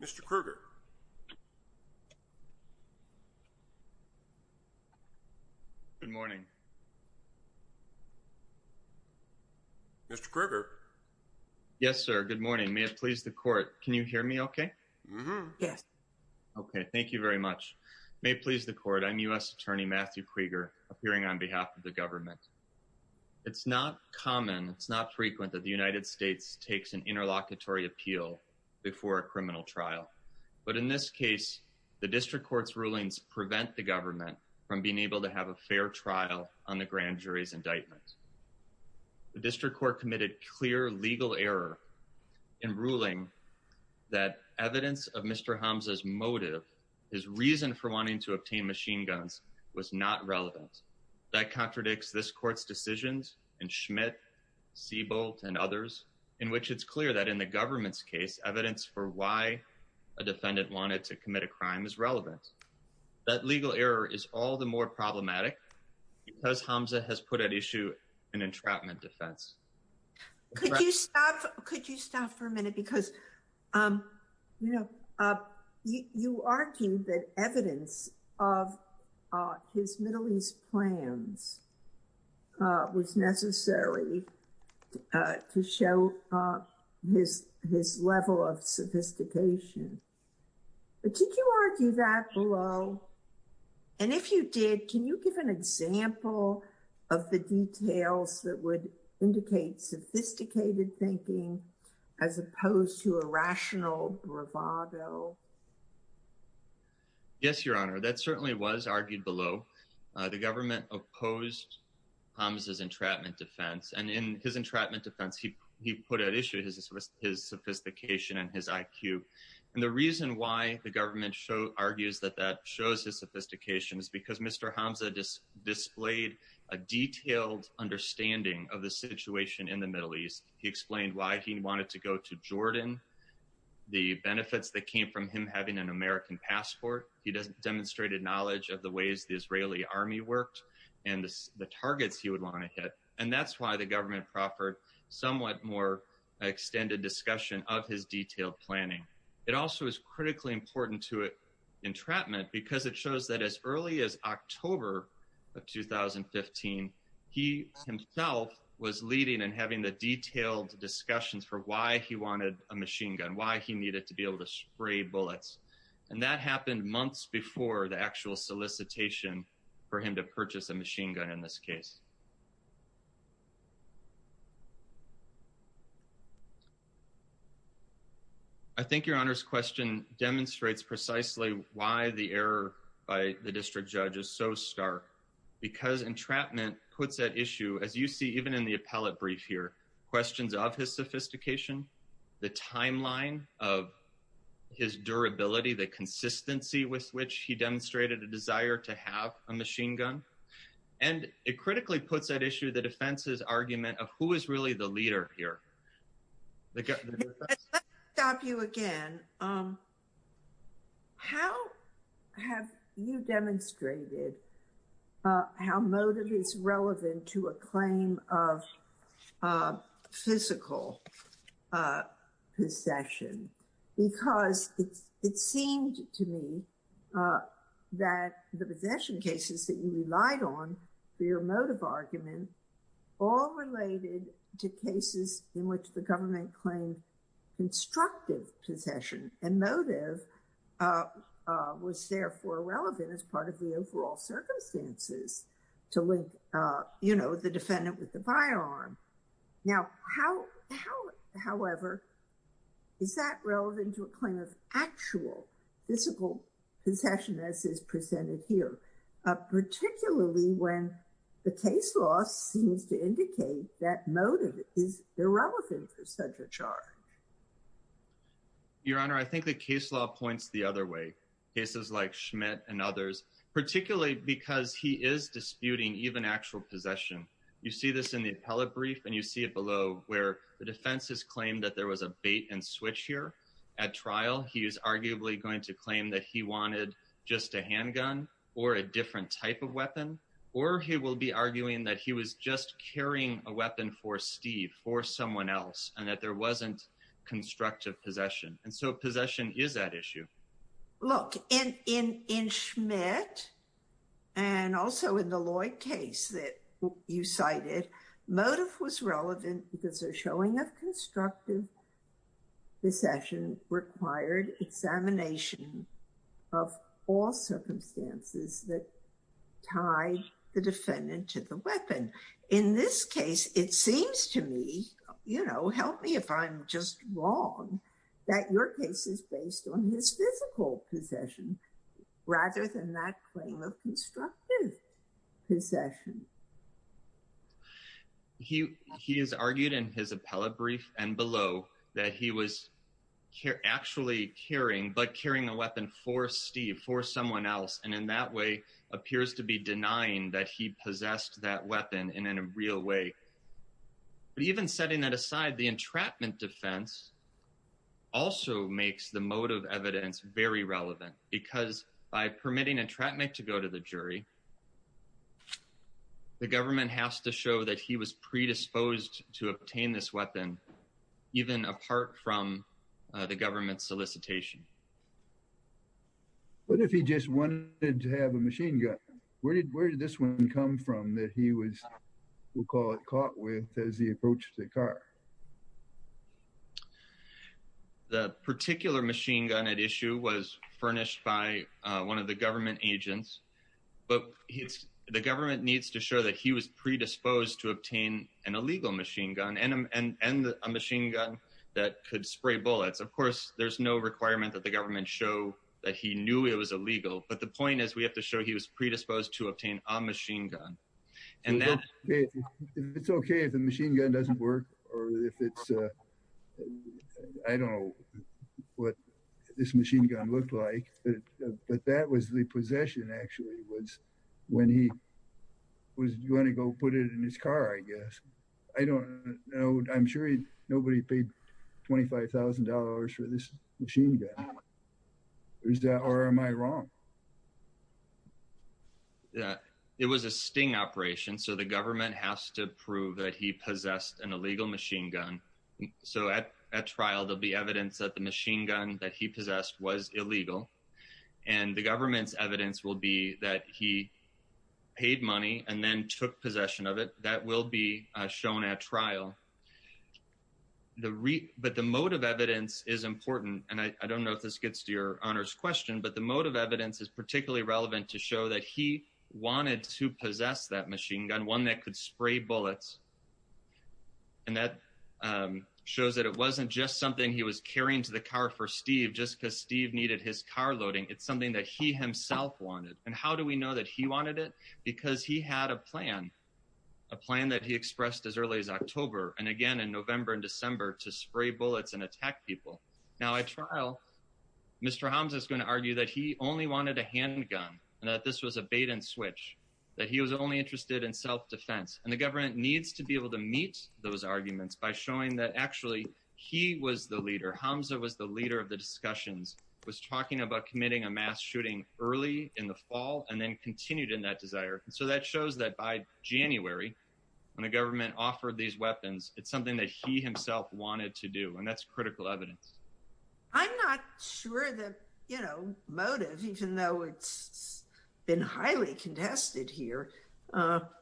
Mr. Krueger Yes sir, good morning. May it please the court, can you hear me okay? Yes. Okay, thank you very much. May it please the court, I'm U.S. Attorney Matthew Krueger, I have a request to speak to you today. Yes, I'm here. Dr. Krueger, there's a lot of trust in the government. It's not common, it's not frequent that the United States takes an interlocutory appeal before a criminal trial. But in this case, the district court's rulings prevent the government from being able to have a fair trial on the grand jury's indictment. The district court committed clear legal error in ruling that evidence of Mr. Hamzeh's motive, his reason for wanting to obtain machine guns, was not relevant. That contradicts this court's decisions and Schmidt, Siebold, and others, in which it's clear that in the government's case, evidence for why a defendant wanted to commit a crime is relevant. That legal error is all the more problematic because Hamzeh has put at issue an entrapment defense. Could you stop for a minute, because, you know, you argue that evidence of his Middle East plans was necessary to show his level of sophistication, but did you argue that below? And if you did, can you give an example of the details that would indicate sophisticated thinking as opposed to a rational bravado? Yes, Your Honor, that certainly was argued below. The government opposed Hamzeh's entrapment defense and in his entrapment defense, he put at issue his sophistication and his IQ. The reason why the government argues that that shows his sophistication is because Mr. Hamzeh displayed a detailed understanding of the situation in the Middle East. He explained why he wanted to go to Jordan, the benefits that came from him having an American passport. He demonstrated knowledge of the ways the Israeli army worked and the targets he would want to hit. And that's why the government proffered somewhat more extended discussion of his detailed planning. It also is critically important to entrapment because it shows that as early as October of 2015, he himself was leading and having the detailed discussions for why he wanted a machine gun, why he needed to be able to spray bullets. And that happened months before the actual solicitation for him to purchase a machine gun in this case. I think your honor's question demonstrates precisely why the error by the district judge is so stark, because entrapment puts at issue, as you see, even in the appellate brief here, questions of his sophistication, the timeline of his durability, the consistency with which he demonstrated a desire to have a machine gun. And it critically puts at issue the defense's argument of who is really the leader here. Let's stop you again. How have you demonstrated how motive is relevant to a claim of physical possession? Because it seemed to me that the possession cases that you relied on for your motive argument, all related to cases in which the government claimed constructive possession and motive was therefore relevant as part of the overall circumstances to link, you know, the defendant with the firearm. Now, how, however, is that relevant to a claim of actual physical possession as is case law seems to indicate that motive is irrelevant for such a charge. Your honor, I think the case law points the other way, cases like Schmidt and others, particularly because he is disputing even actual possession. You see this in the appellate brief and you see it below where the defense has claimed that there was a bait and switch here at trial. He is arguably going to claim that he wanted just a handgun or a different type of weapon, that he was just carrying a weapon for Steve, for someone else, and that there wasn't constructive possession. And so possession is that issue. Look, in Schmidt and also in the Lloyd case that you cited, motive was relevant because a showing of constructive possession required examination of all circumstances that tied the defendant to the weapon. In this case, it seems to me, you know, help me if I'm just wrong, that your case is based on his physical possession rather than that claim of constructive possession. He has argued in his appellate brief and below that he was actually carrying, but carrying a weapon for Steve, for someone else, and in that way appears to be denying that he possessed that weapon in a real way. But even setting that aside, the entrapment defense also makes the motive evidence very relevant because by permitting entrapment to go to the jury, the government has to show that he was predisposed to obtain this weapon, even apart from the government's solicitation. But if he just wanted to have a machine gun, where did this one come from that he was, we'll call it, caught with as he approached the car? The particular machine gun at issue was furnished by one of the government agents, but the government needs to show that he was predisposed to obtain an illegal machine gun and a machine gun that could spray bullets. Of course, there's no requirement that the government show that he knew it was illegal. But the point is, we have to show he was predisposed to obtain a machine gun. And then it's OK if the machine gun doesn't work or if it's, I don't know what this machine gun looked like, but that was the possession actually was when he was going to go put it in his car, I guess. I don't know, I'm sure nobody paid $25,000 for this machine gun, or am I wrong? Yeah, it was a sting operation, so the government has to prove that he possessed an illegal machine gun, so at trial, there'll be evidence that the machine gun that he possessed was illegal and the government's evidence will be that he paid money and then took possession of it. That will be shown at trial. But the motive evidence is important, and I don't know if this gets to your honor's question, but the motive evidence is particularly relevant to show that he wanted to possess that machine gun, one that could spray bullets. And that shows that it wasn't just something he was carrying to the car for Steve, just because Steve needed his car loading. It's something that he himself wanted. And how do we know that he wanted it? Because he had a plan, a plan that he expressed as early as October and again in November and December to spray bullets and attack people. Now, at trial, Mr. Hamza is going to argue that he only wanted a handgun and that this was a bait and switch, that he was only interested in self-defense. And the government needs to be able to meet those arguments by showing that actually he was the leader. Hamza was the leader of the discussions, was talking about committing a crime, and he was the leader of the discussions, and he was the leader of that desire. And so that shows that by January, when the government offered these weapons, it's something that he himself wanted to do. And that's critical evidence. I'm not sure that, you know, motive, even though it's been highly contested here,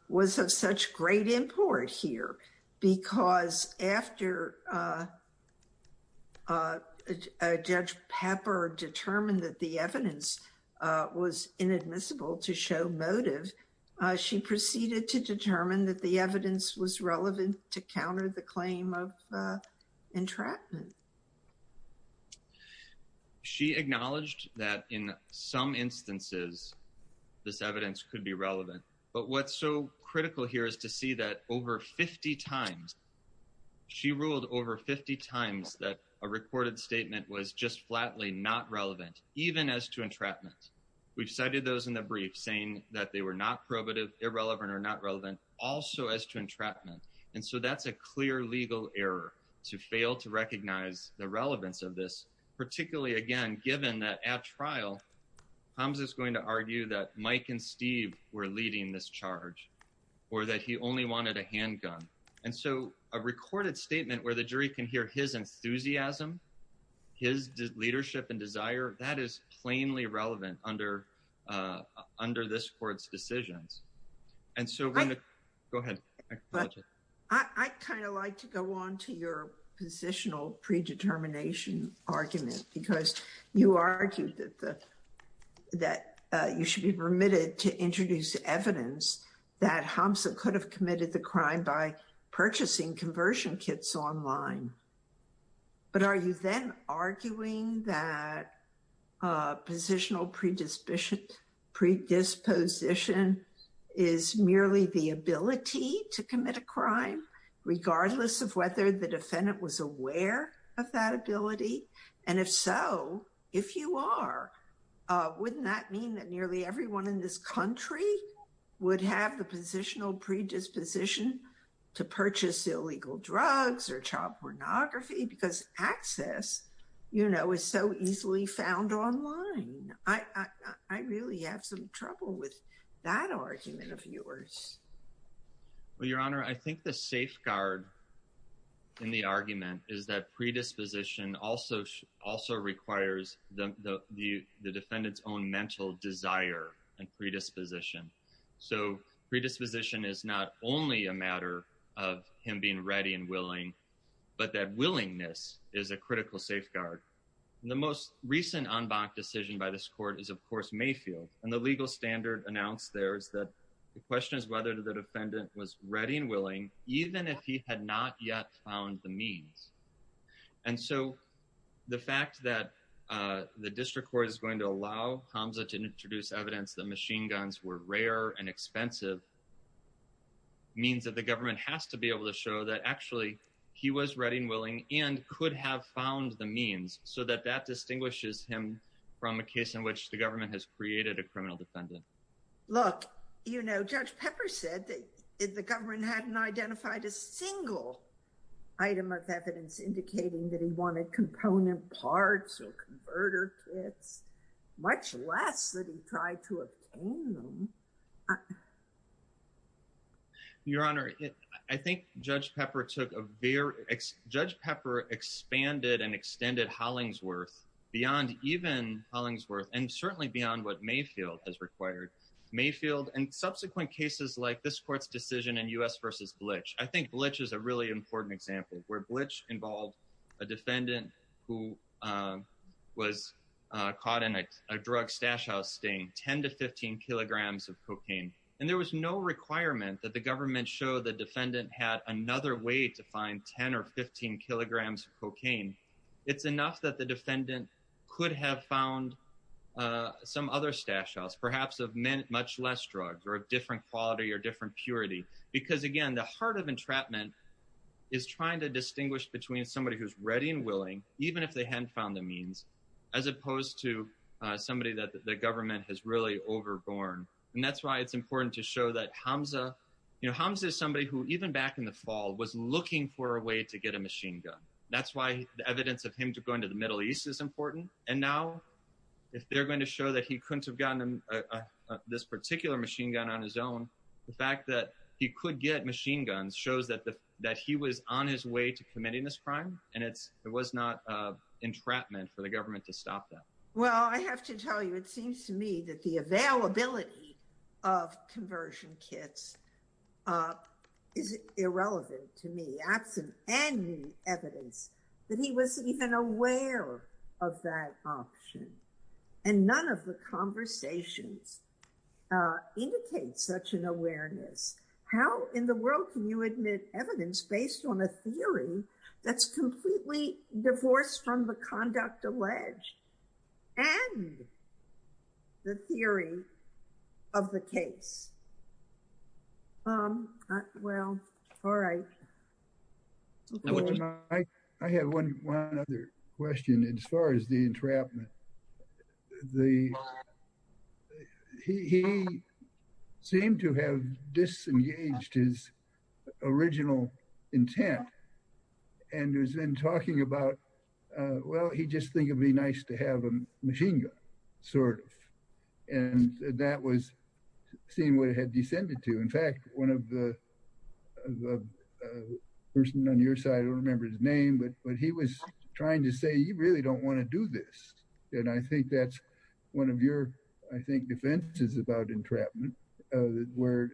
was of such great import here because after Judge Pepper determined that the evidence was inadmissible to show motive, she proceeded to determine that the evidence was relevant to counter the claim of entrapment. She acknowledged that in some instances this evidence could be relevant, but what's so critical here is to see that over 50 times, she ruled over 50 times that a recorded statement was just flatly not relevant, even as to entrapment. We've cited those in the brief saying that they were not probative, irrelevant or not relevant, also as to entrapment. And so that's a clear legal error to fail to recognize the relevance of this, particularly again, given that at trial, Hamza is going to argue that Mike and Steve were leading this charge or that he only wanted a handgun. And so a recorded statement where the jury can hear his enthusiasm, his leadership and desire, that is plainly relevant under under this court's decisions. And so go ahead. I kind of like to go on to your positional predetermination argument because you argued that you should be permitted to introduce evidence that Hamza could have committed the crime by purchasing conversion kits online. But are you then arguing that positional predisposition is merely the ability to commit a crime, regardless of whether the defendant was aware of that ability? And if so, if you are, wouldn't that mean that nearly everyone in this country would have the positional predisposition to purchase illegal drugs or child pornography? Because access, you know, is so easily found online. I really have some trouble with that argument of yours. Well, Your Honor, I think the safeguard in the argument is that predisposition also also requires the defendant's own mental desire and predisposition. So predisposition is not only a matter of him being ready and willing, but that willingness is a critical safeguard. The most recent en banc decision by this court is, of course, Mayfield. And the legal standard announced there is that the question is whether the defendant was ready and willing, even if he had not yet found the means. And so the fact that the district court is going to allow Hamza to introduce evidence that machine guns were rare and expensive. Means that the government has to be able to show that actually he was ready and willing and could have found the means so that that distinguishes him from a case in which the criminal defendant. Look, you know, Judge Pepper said that the government hadn't identified a single item of evidence indicating that he wanted component parts or converter kits, much less that he tried to obtain them. Your Honor, I think Judge Pepper took a very, Judge Pepper expanded and extended Hollingsworth beyond even Hollingsworth and certainly beyond what Mayfield has required. Mayfield and subsequent cases like this court's decision in U.S. versus Blitch. I think Blitch is a really important example where Blitch involved a defendant who was caught in a drug stash house, staying 10 to 15 kilograms of cocaine. And there was no requirement that the government show the defendant had another way to find 10 or 15 kilograms of cocaine. It's enough that the defendant could have found some other stash house, perhaps of men, much less drugs or a different quality or different purity. Because, again, the heart of entrapment is trying to distinguish between somebody who's ready and willing, even if they hadn't found the means, as opposed to somebody that the government has really overborne. And that's why it's important to show that Hamza, you know, Hamza is somebody who even back in the fall was looking for a way to get a machine gun. That's why the evidence of him to go into the Middle East is important. And now if they're going to show that he couldn't have gotten this particular machine gun on his own, the fact that he could get machine guns shows that that he was on his way to committing this crime. And it's it was not entrapment for the government to stop that. Well, I have to tell you, it seems to me that the availability of conversion kits is irrelevant to me, absent any evidence that he was even aware of that option. And none of the conversations indicate such an awareness. How in the world can you admit evidence based on a theory that's completely divorced from the conduct alleged and the theory of the case? Um, well, all right. I have one other question as far as the entrapment, the, he seemed to have disengaged his original intent and has been talking about, well, he just think it'd be nice to have a machine gun, sort of. And that was seeing what it had descended to. In fact, one of the person on your side, I don't remember his name, but he was trying to say, you really don't want to do this. And I think that's one of your, I think, defenses about entrapment where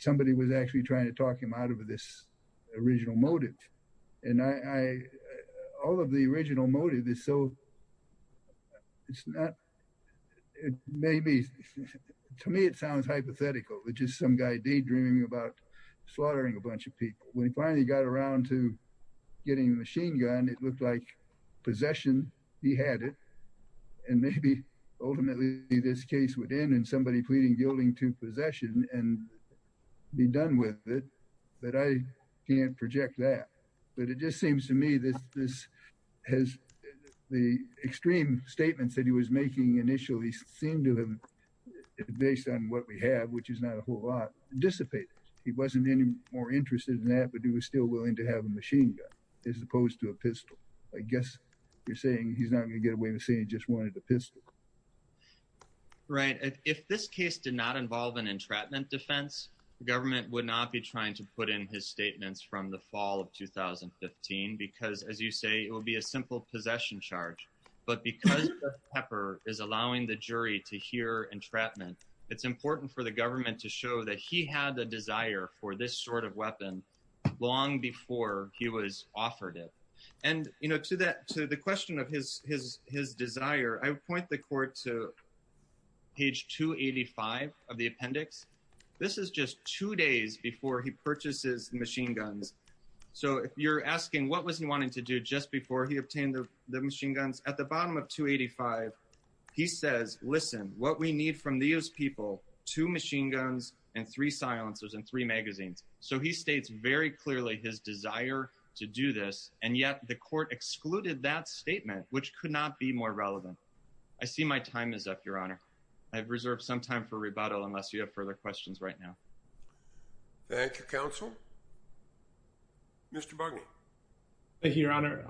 somebody was actually trying to talk him out of this original motive. And I, all of the original motive is so, it's not, maybe to me, it sounds hypothetical. It's just some guy daydreaming about slaughtering a bunch of people. When he finally got around to getting the machine gun, it looked like possession, he had it, and maybe ultimately this case would end in somebody pleading guilty to possession and be done with it, but I can't project that. But it just seems to me that this has, the extreme statements that he was making initially seemed to him, based on what we have, which is not a whole lot, dissipated. He wasn't any more interested in that, but he was still willing to have a machine gun as opposed to a pistol. I guess you're saying he's not going to get away with saying he just wanted a pistol. Right. If this case did not involve an entrapment defense, the government would not be trying to put in his statements from the fall of 2015, because as you say, it will be a simple possession charge. But because Pepper is allowing the jury to hear entrapment, it's important for the government to show that he had the desire for this sort of weapon long before he was offered it. And to the question of his desire, I would point the court to page 285 of the appendix. This is just two days before he purchases machine guns. So if you're asking what was he wanting to do just before he obtained the machine guns, at the bottom of 285, he says, listen, what we need from these people, two machine guns and three silencers and three magazines. So he states very clearly his desire to do this. And yet the court excluded that statement, which could not be more relevant. I see my time is up, Your Honor. I've reserved some time for rebuttal unless you have further questions right now. Thank you, Counsel. Mr. Bugney. Thank you, Your Honor.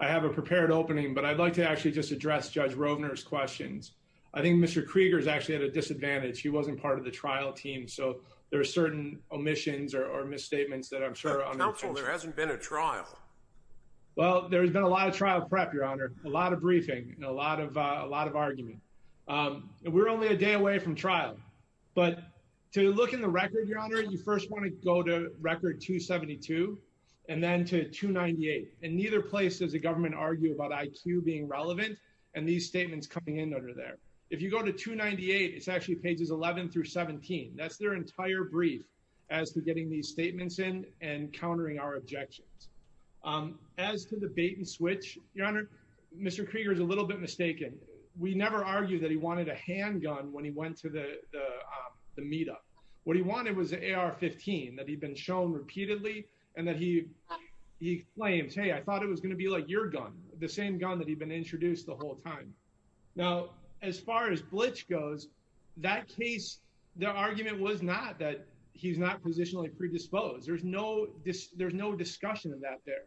I have a prepared opening, but I'd like to actually just address Judge Rovner's questions. I think Mr. Krieger is actually at a disadvantage. He wasn't part of the trial team. So there are certain omissions or misstatements that I'm sure are unimportant. Counsel, there hasn't been a trial. Well, there's been a lot of trial prep, Your Honor, a lot of briefing and a lot of argument. We're only a day away from trial. But to look in the record, Your Honor, you first want to go to record 272 and then to 298. And neither place does the government argue about IQ being relevant and these statements coming in under there. If you go to 298, it's actually pages 11 through 17. That's their entire brief as to getting these statements in and countering our objections. As to the bait and switch, Your Honor, Mr. Krieger is a little bit mistaken. We never argued that he wanted a handgun when he went to the meetup. What he wanted was an AR-15 that he'd been shown repeatedly and that he claims, hey, I thought it was going to be like your gun, the same gun that he'd been introduced the whole time. Now, as far as Blitch goes, that case, the argument was not that he's not positionally predisposed. There's no discussion of that there.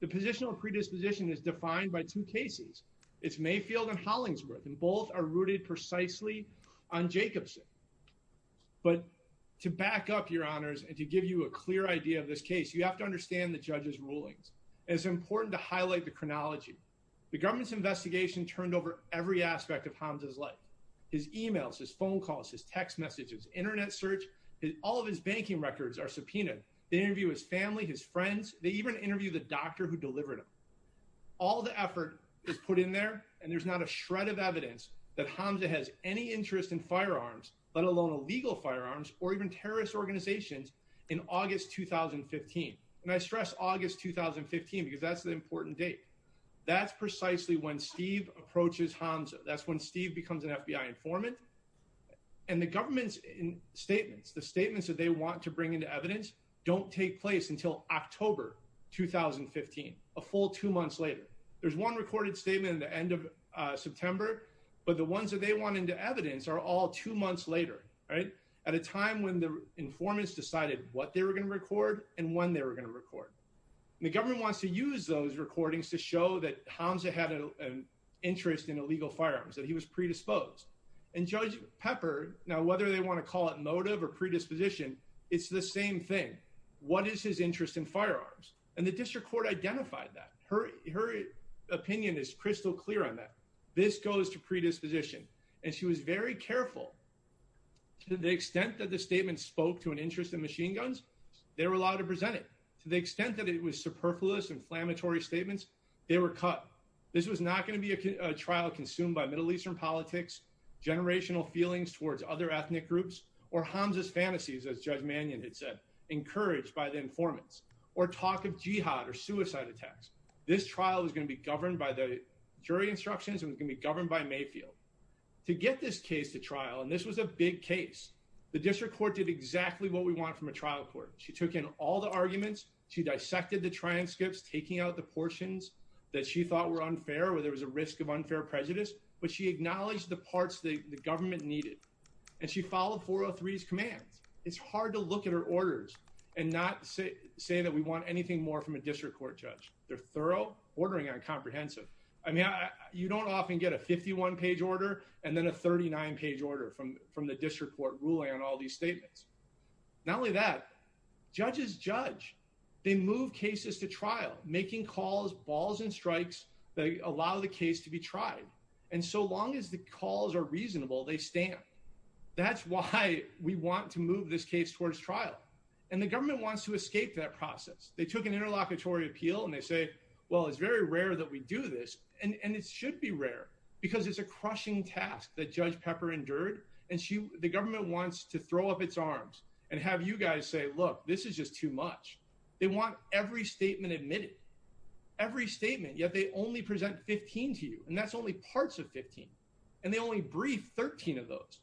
The positional predisposition is defined by two cases. It's Mayfield and Hollingsworth, and both are rooted precisely on Jacobson. But to back up, Your Honors, and to give you a clear idea of this case, you have to understand the judge's rulings. It's important to highlight the chronology. The government's investigation turned over every aspect of Hamza's life. His emails, his phone calls, his text messages, internet search, all of his banking records are subpoenaed. They interview his family, his friends. They even interview the doctor who delivered him. All the effort is put in there, and there's not a shred of evidence that Hamza has any interest in firearms, let alone illegal firearms or even terrorist organizations, in August 2015. And I stress August 2015 because that's the important date. That's precisely when Steve approaches Hamza. That's when Steve becomes an FBI informant. And the government's statements, the statements that they want to bring into evidence don't take place until October 2015, a full two months later. There's one recorded statement at the end of September, but the ones that they want into evidence are all two months later, right? At a time when the informants decided what they were going to record and when they were going to record. The government wants to use those recordings to show that Hamza had an interest in illegal firearms, that he was predisposed. And Judge Pepper, now whether they want to call it motive or predisposition, it's the same thing. What is his interest in firearms? And the district court identified that. Her opinion is crystal clear on that. This goes to predisposition. And she was very careful to the extent that the statement spoke to an interest in machine guns, they were allowed to present it. To the extent that it was superfluous, inflammatory statements, they were cut. This was not going to be a trial consumed by Middle Eastern politics, generational feelings towards other ethnic groups, or Hamza's fantasies, as Judge Mannion had said, encouraged by the informants, or talk of jihad or suicide attacks. This trial was going to be governed by the jury instructions and was going to be governed by Mayfield. To get this case to trial, and this was a big case, the district court did exactly what we want from a trial court. She took in all the arguments, she dissected the transcripts, taking out the portions that she thought were unfair, where there was a risk of unfair prejudice, but she acknowledged the parts that the government needed. And she followed 403's commands. It's hard to look at her orders and not say that we want anything more from a district court judge. They're thorough, ordering on comprehensive. I mean, you don't often get a 51-page order, and then a 39-page order from the district court ruling on all these statements. Not only that, judges judge. They move cases to trial, making calls, balls, and strikes that allow the case to be tried. And so long as the calls are reasonable, they stand. That's why we want to move this case towards trial. And the government wants to escape that process. They took an interlocutory appeal and they say, well, it's very rare that we do this. And it should be rare because it's a crushing task that Judge Pepper endured. And the government wants to throw up its arms and have you guys say, look, this is just too much. They want every statement admitted. Every statement, yet they only present 15 to you. That's only parts of 15. And they only brief 13 of those.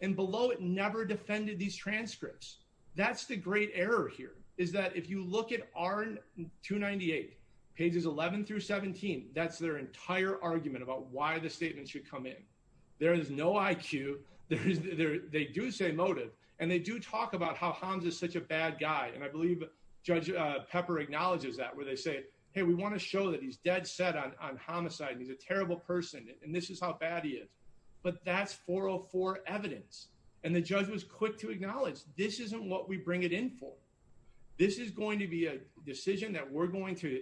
And below it never defended these transcripts. That's the great error here, is that if you look at R298, pages 11 through 17, that's their entire argument about why the statement should come in. There is no IQ. They do say motive. And they do talk about how Hans is such a bad guy. And I believe Judge Pepper acknowledges that where they say, hey, we want to show that he's dead set on homicide. He's a terrible person and this is how bad he is. But that's 404 evidence. And the judge was quick to acknowledge this isn't what we bring it in for. This is going to be a decision that we're going to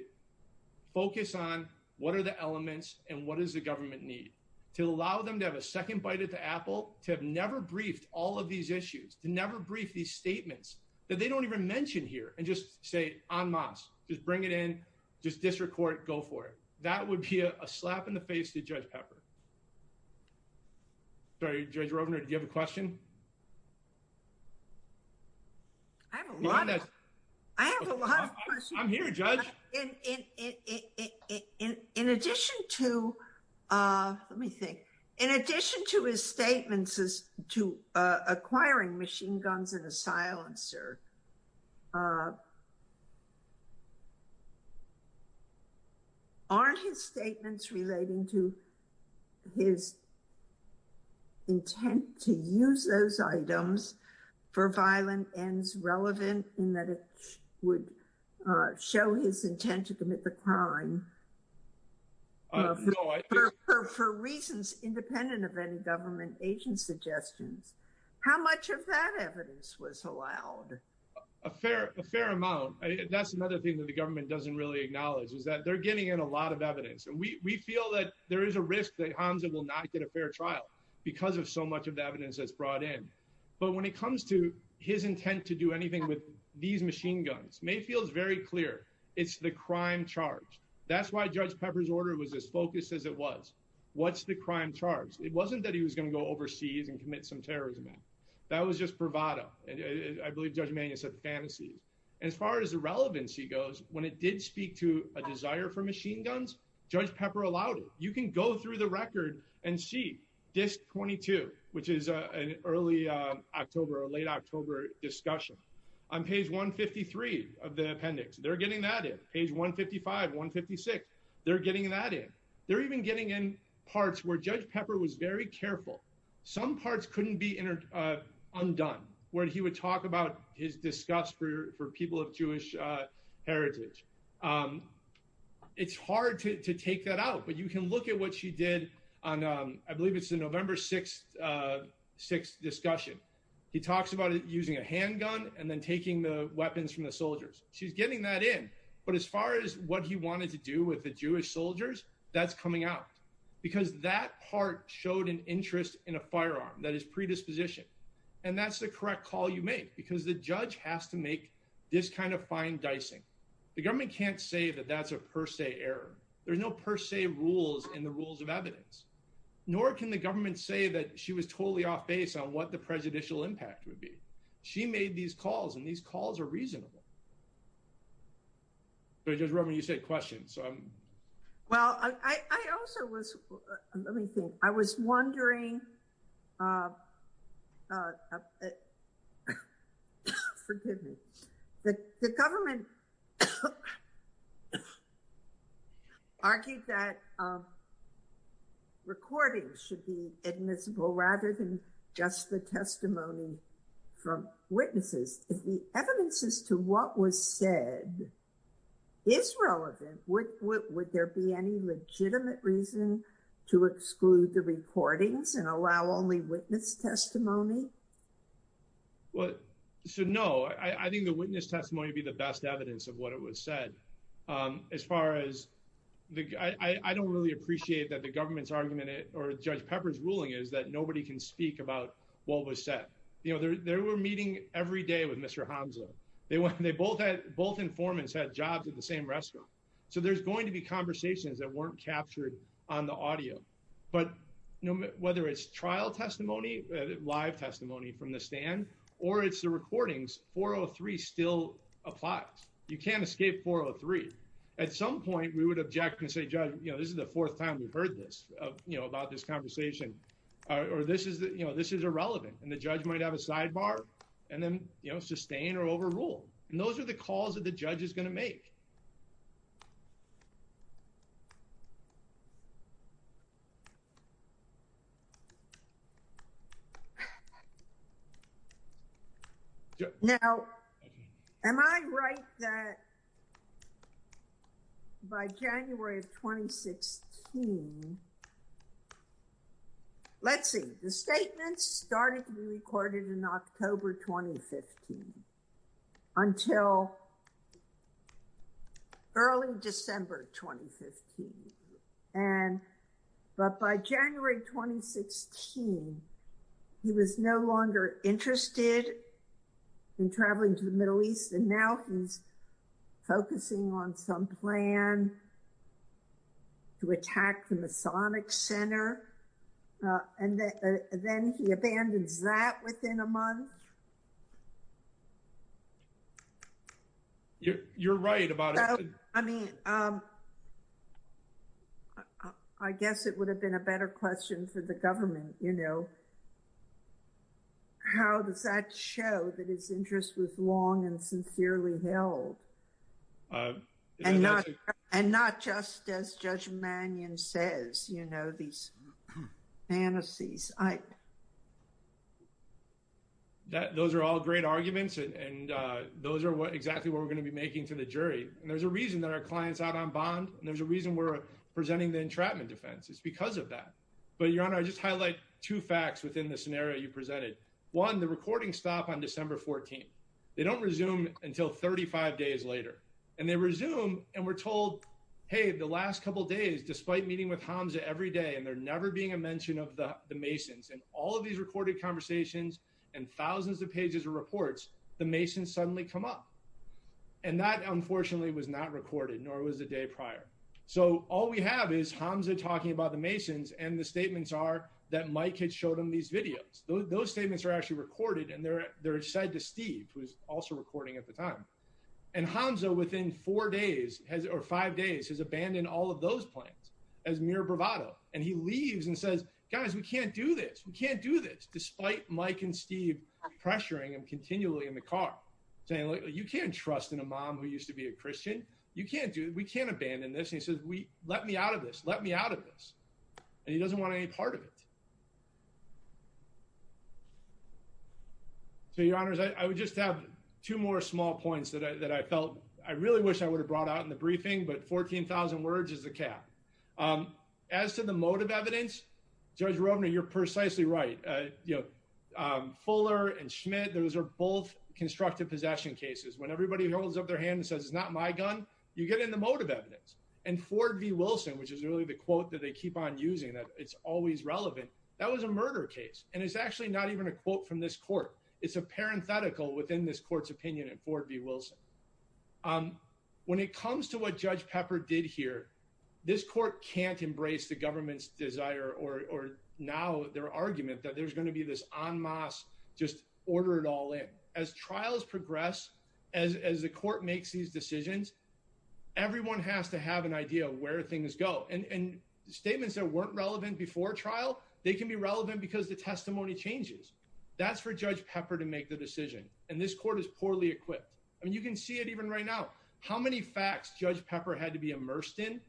focus on what are the elements and what does the government need to allow them to have a second bite at the apple, to have never briefed all of these issues, to never brief these statements that they don't even mention here. And just say en masse, just bring it in, just disrecord it, go for it. That would be a slap in the face to Judge Pepper. Sorry, Judge Rovner, do you have a question? I have a lot of questions. I'm here, Judge. In addition to, let me think, in addition to his statements to acquiring machine guns and a silencer, aren't his statements relating to his intent to use those items for violent ends relevant in that it would show his intent to commit the crime for reasons independent of any government agent suggestions? How much of that evidence was allowed? A fair amount. That's another thing that the government doesn't really acknowledge is that they're getting in a lot of evidence. And we feel that there is a risk that Hansa will not get a fair trial because of so much of the evidence that's brought in. But when it comes to his intent to do anything with these machine guns, Mayfield's very clear. It's the crime charge. That's why Judge Pepper's order was as focused as it was. What's the crime charge? It wasn't that he was going to go overseas and commit some terrorism. That was just bravado. I believe Judge Mayfield said fantasies. As far as the relevance, he goes, when it did speak to a desire for machine guns, Judge Pepper allowed it. You can go through the record and see Disc 22, which is an early October or late October discussion on page 153 of the appendix. They're getting that in. Page 155, 156. They're getting that in. They're even getting in parts where Judge Pepper was very careful. Some parts couldn't be undone, where he would talk about his disgust for people of Jewish heritage. It's hard to take that out. But you can look at what she did on, I believe it's the November 6th discussion. He talks about it using a handgun and then taking the weapons from the soldiers. She's getting that in. But as far as what he wanted to do with the Jewish soldiers, that's coming out. Because that part showed an interest in a firearm that is predisposition. And that's the correct call you make, because the judge has to make this kind of fine dicing. The government can't say that that's a per se error. There's no per se rules in the rules of evidence. Nor can the government say that she was totally off base on what the prejudicial impact would be. She made these calls, and these calls are reasonable. But Judge Roman, you said questions. Well, I also was, let me think, I was wondering, forgive me, the government argued that recordings should be admissible rather than just the testimony from witnesses. If the evidence as to what was said is relevant, would there be any legitimate reason to exclude the recordings and allow only witness testimony? Well, so no, I think the witness testimony would be the best evidence of what it was said. As far as, I don't really appreciate that the government's argument or Judge Pepper's ruling is that nobody can speak about what was said. You know, they were meeting every day with Mr. Hamza. They both had, both informants had jobs at the same restaurant. So there's going to be conversations that weren't captured on the audio. But whether it's trial testimony, live testimony from the stand, or it's the recordings, 403 still applies. You can't escape 403. At some point, we would object and say, Judge, you know, this is the fourth time we've heard this, you know, about this conversation. Or this is, you know, this is irrelevant. And the judge might have a sidebar and then, you know, sustain or overrule. And those are the calls that the judge is going to make. Now, am I right that by January of 2016, let's see, the statements started to be recorded in October 2015, until early December 2015. And, but by January 2016, he was no longer interested in traveling to the Middle East. And now he's focusing on some plan to attack the Masonic Center. And then he abandons that within a month. You're right about it. I mean, I guess it would have been a better question for the government, you know. How does that show that his interest was long and sincerely held? And not just as Judge Mannion says, you know, these fantasies. Those are all great arguments. And those are exactly what we're going to be making to the jury. And there's a reason that our client's out on bond. And there's a reason we're presenting the entrapment defense. It's because of that. But Your Honor, I just highlight two facts within the scenario you presented. One, the recording stopped on December 14th. They don't resume until 35 days later. And they resume, and we're told, hey, the last couple days, despite meeting with Hamza every day, and there never being a mention of the Masons, and all of these recorded conversations, and thousands of pages of reports, the Masons suddenly come up. And that, unfortunately, was not recorded, nor was the day prior. So all we have is Hamza talking about the Masons. And the statements are that Mike had showed him these videos. Those statements are actually recorded. And they're said to Steve, who's also recording at the time. And Hamza, within four days, or five days, has abandoned all of those plans as mere bravado. And he leaves and says, guys, we can't do this. We can't do this, despite Mike and Steve pressuring him continually in the car, saying, look, you can't trust in a mom who used to be a Christian. You can't do it. We can't abandon this. And he says, let me out of this. Let me out of this. And he doesn't want any part of it. So, Your Honors, I would just have two more small points that I felt I really wish I would have brought out in the briefing. But 14,000 words is the cap. As to the motive evidence, Judge Rovner, you're precisely right. Fuller and Schmidt, those are both constructive possession cases. When everybody holds up their hand and says, it's not my gun, you get in the motive evidence. And Ford v. Wilson, which is really the quote that they keep on using, that it's always relevant, that was a murder case. And it's actually not even a quote from this court. It's a parenthetical within this court's opinion at Ford v. Wilson. When it comes to what Judge Pepper did here, this court can't embrace the government's desire or now their argument that there's going to be this en masse, just order it all in. As trials progress, as the court makes these decisions, everyone has to have an idea of where things go. And statements that weren't relevant before trial, they can be relevant because the testimony changes. That's for Judge Pepper to make the decision. And this court is poorly equipped. I mean, you can see it even right now. How many facts Judge Pepper had to be immersed in?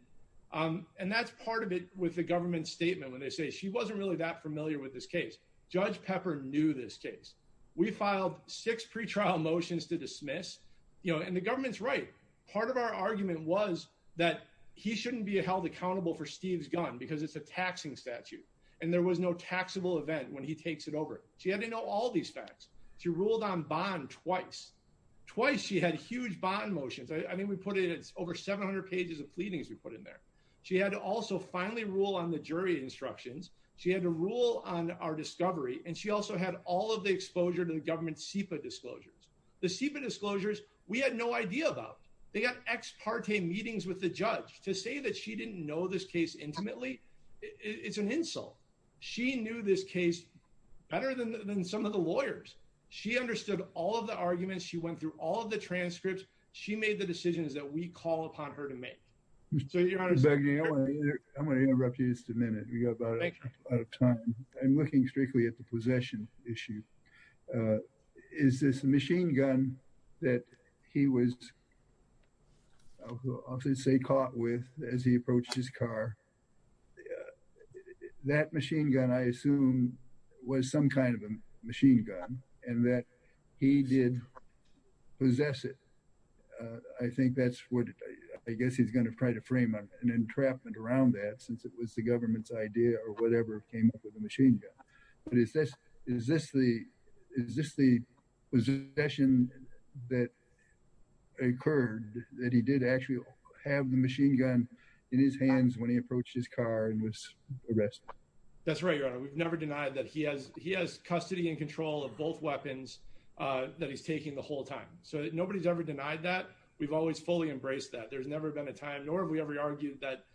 And that's part of it with the government's statement when they say, she wasn't really that familiar with this case. Judge Pepper knew this case. We filed six pretrial motions to dismiss. And the government's right. Part of our argument was that he shouldn't be held accountable for Steve's gun because it's a taxing statute. And there was no taxable event when he takes it over. She had to know all these facts. She ruled on bond twice. Twice, she had huge bond motions. I mean, we put it over 700 pages of pleadings we put in there. She had to also finally rule on the jury instructions. She had to rule on our discovery. And she also had all of the exposure to the government's SEPA disclosures. The SEPA disclosures we had no idea about. They got ex parte meetings with the judge to say that she didn't know this case intimately. It's an insult. She knew this case better than some of the lawyers. She understood all of the arguments. She went through all of the transcripts. She made the decisions that we call upon her to make. So your Honor, I'm going to interrupt you just a minute. We got a lot of time. I'm looking strictly at the possession issue. Is this the machine gun that he was, I'll say, caught with as he approached his car? That machine gun, I assume, was some kind of a machine gun and that he did possess it. I think that's what, I guess he's going to try to frame an entrapment around that since it was the government's idea or whatever came up with the machine gun. But is this the possession that occurred that he did actually have the machine gun in his hands when he approached his car and was arrested? That's right, Your Honor. We've never denied that he has custody and control of both weapons that he's taking the whole time. So nobody's ever denied that. We've always fully embraced that. There's never been a time, nor have we ever argued that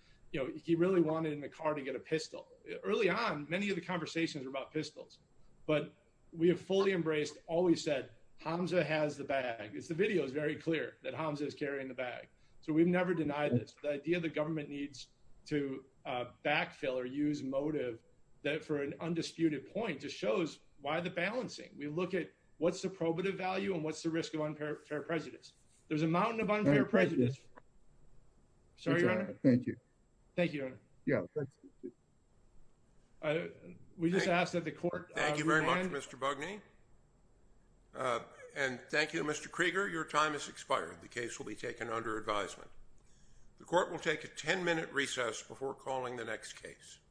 he really wanted in the car to get a pistol. Early on, many of the conversations were about pistols. But we have fully embraced, always said, Hamza has the bag. The video is very clear that Hamza is carrying the bag. So we've never denied this. The idea the government needs to backfill or use motive for an undisputed point just shows why the balancing. We look at what's the probative value and what's the risk of unfair prejudice. There's a mountain of unfair prejudice. Sorry, Your Honor. Thank you. Thank you, Your Honor. We just asked that the court- Thank you very much, Mr. Bugney. And thank you, Mr. Krieger. Your time has expired. The case will be taken under advisement. The court will take a 10-minute recess before calling the next case.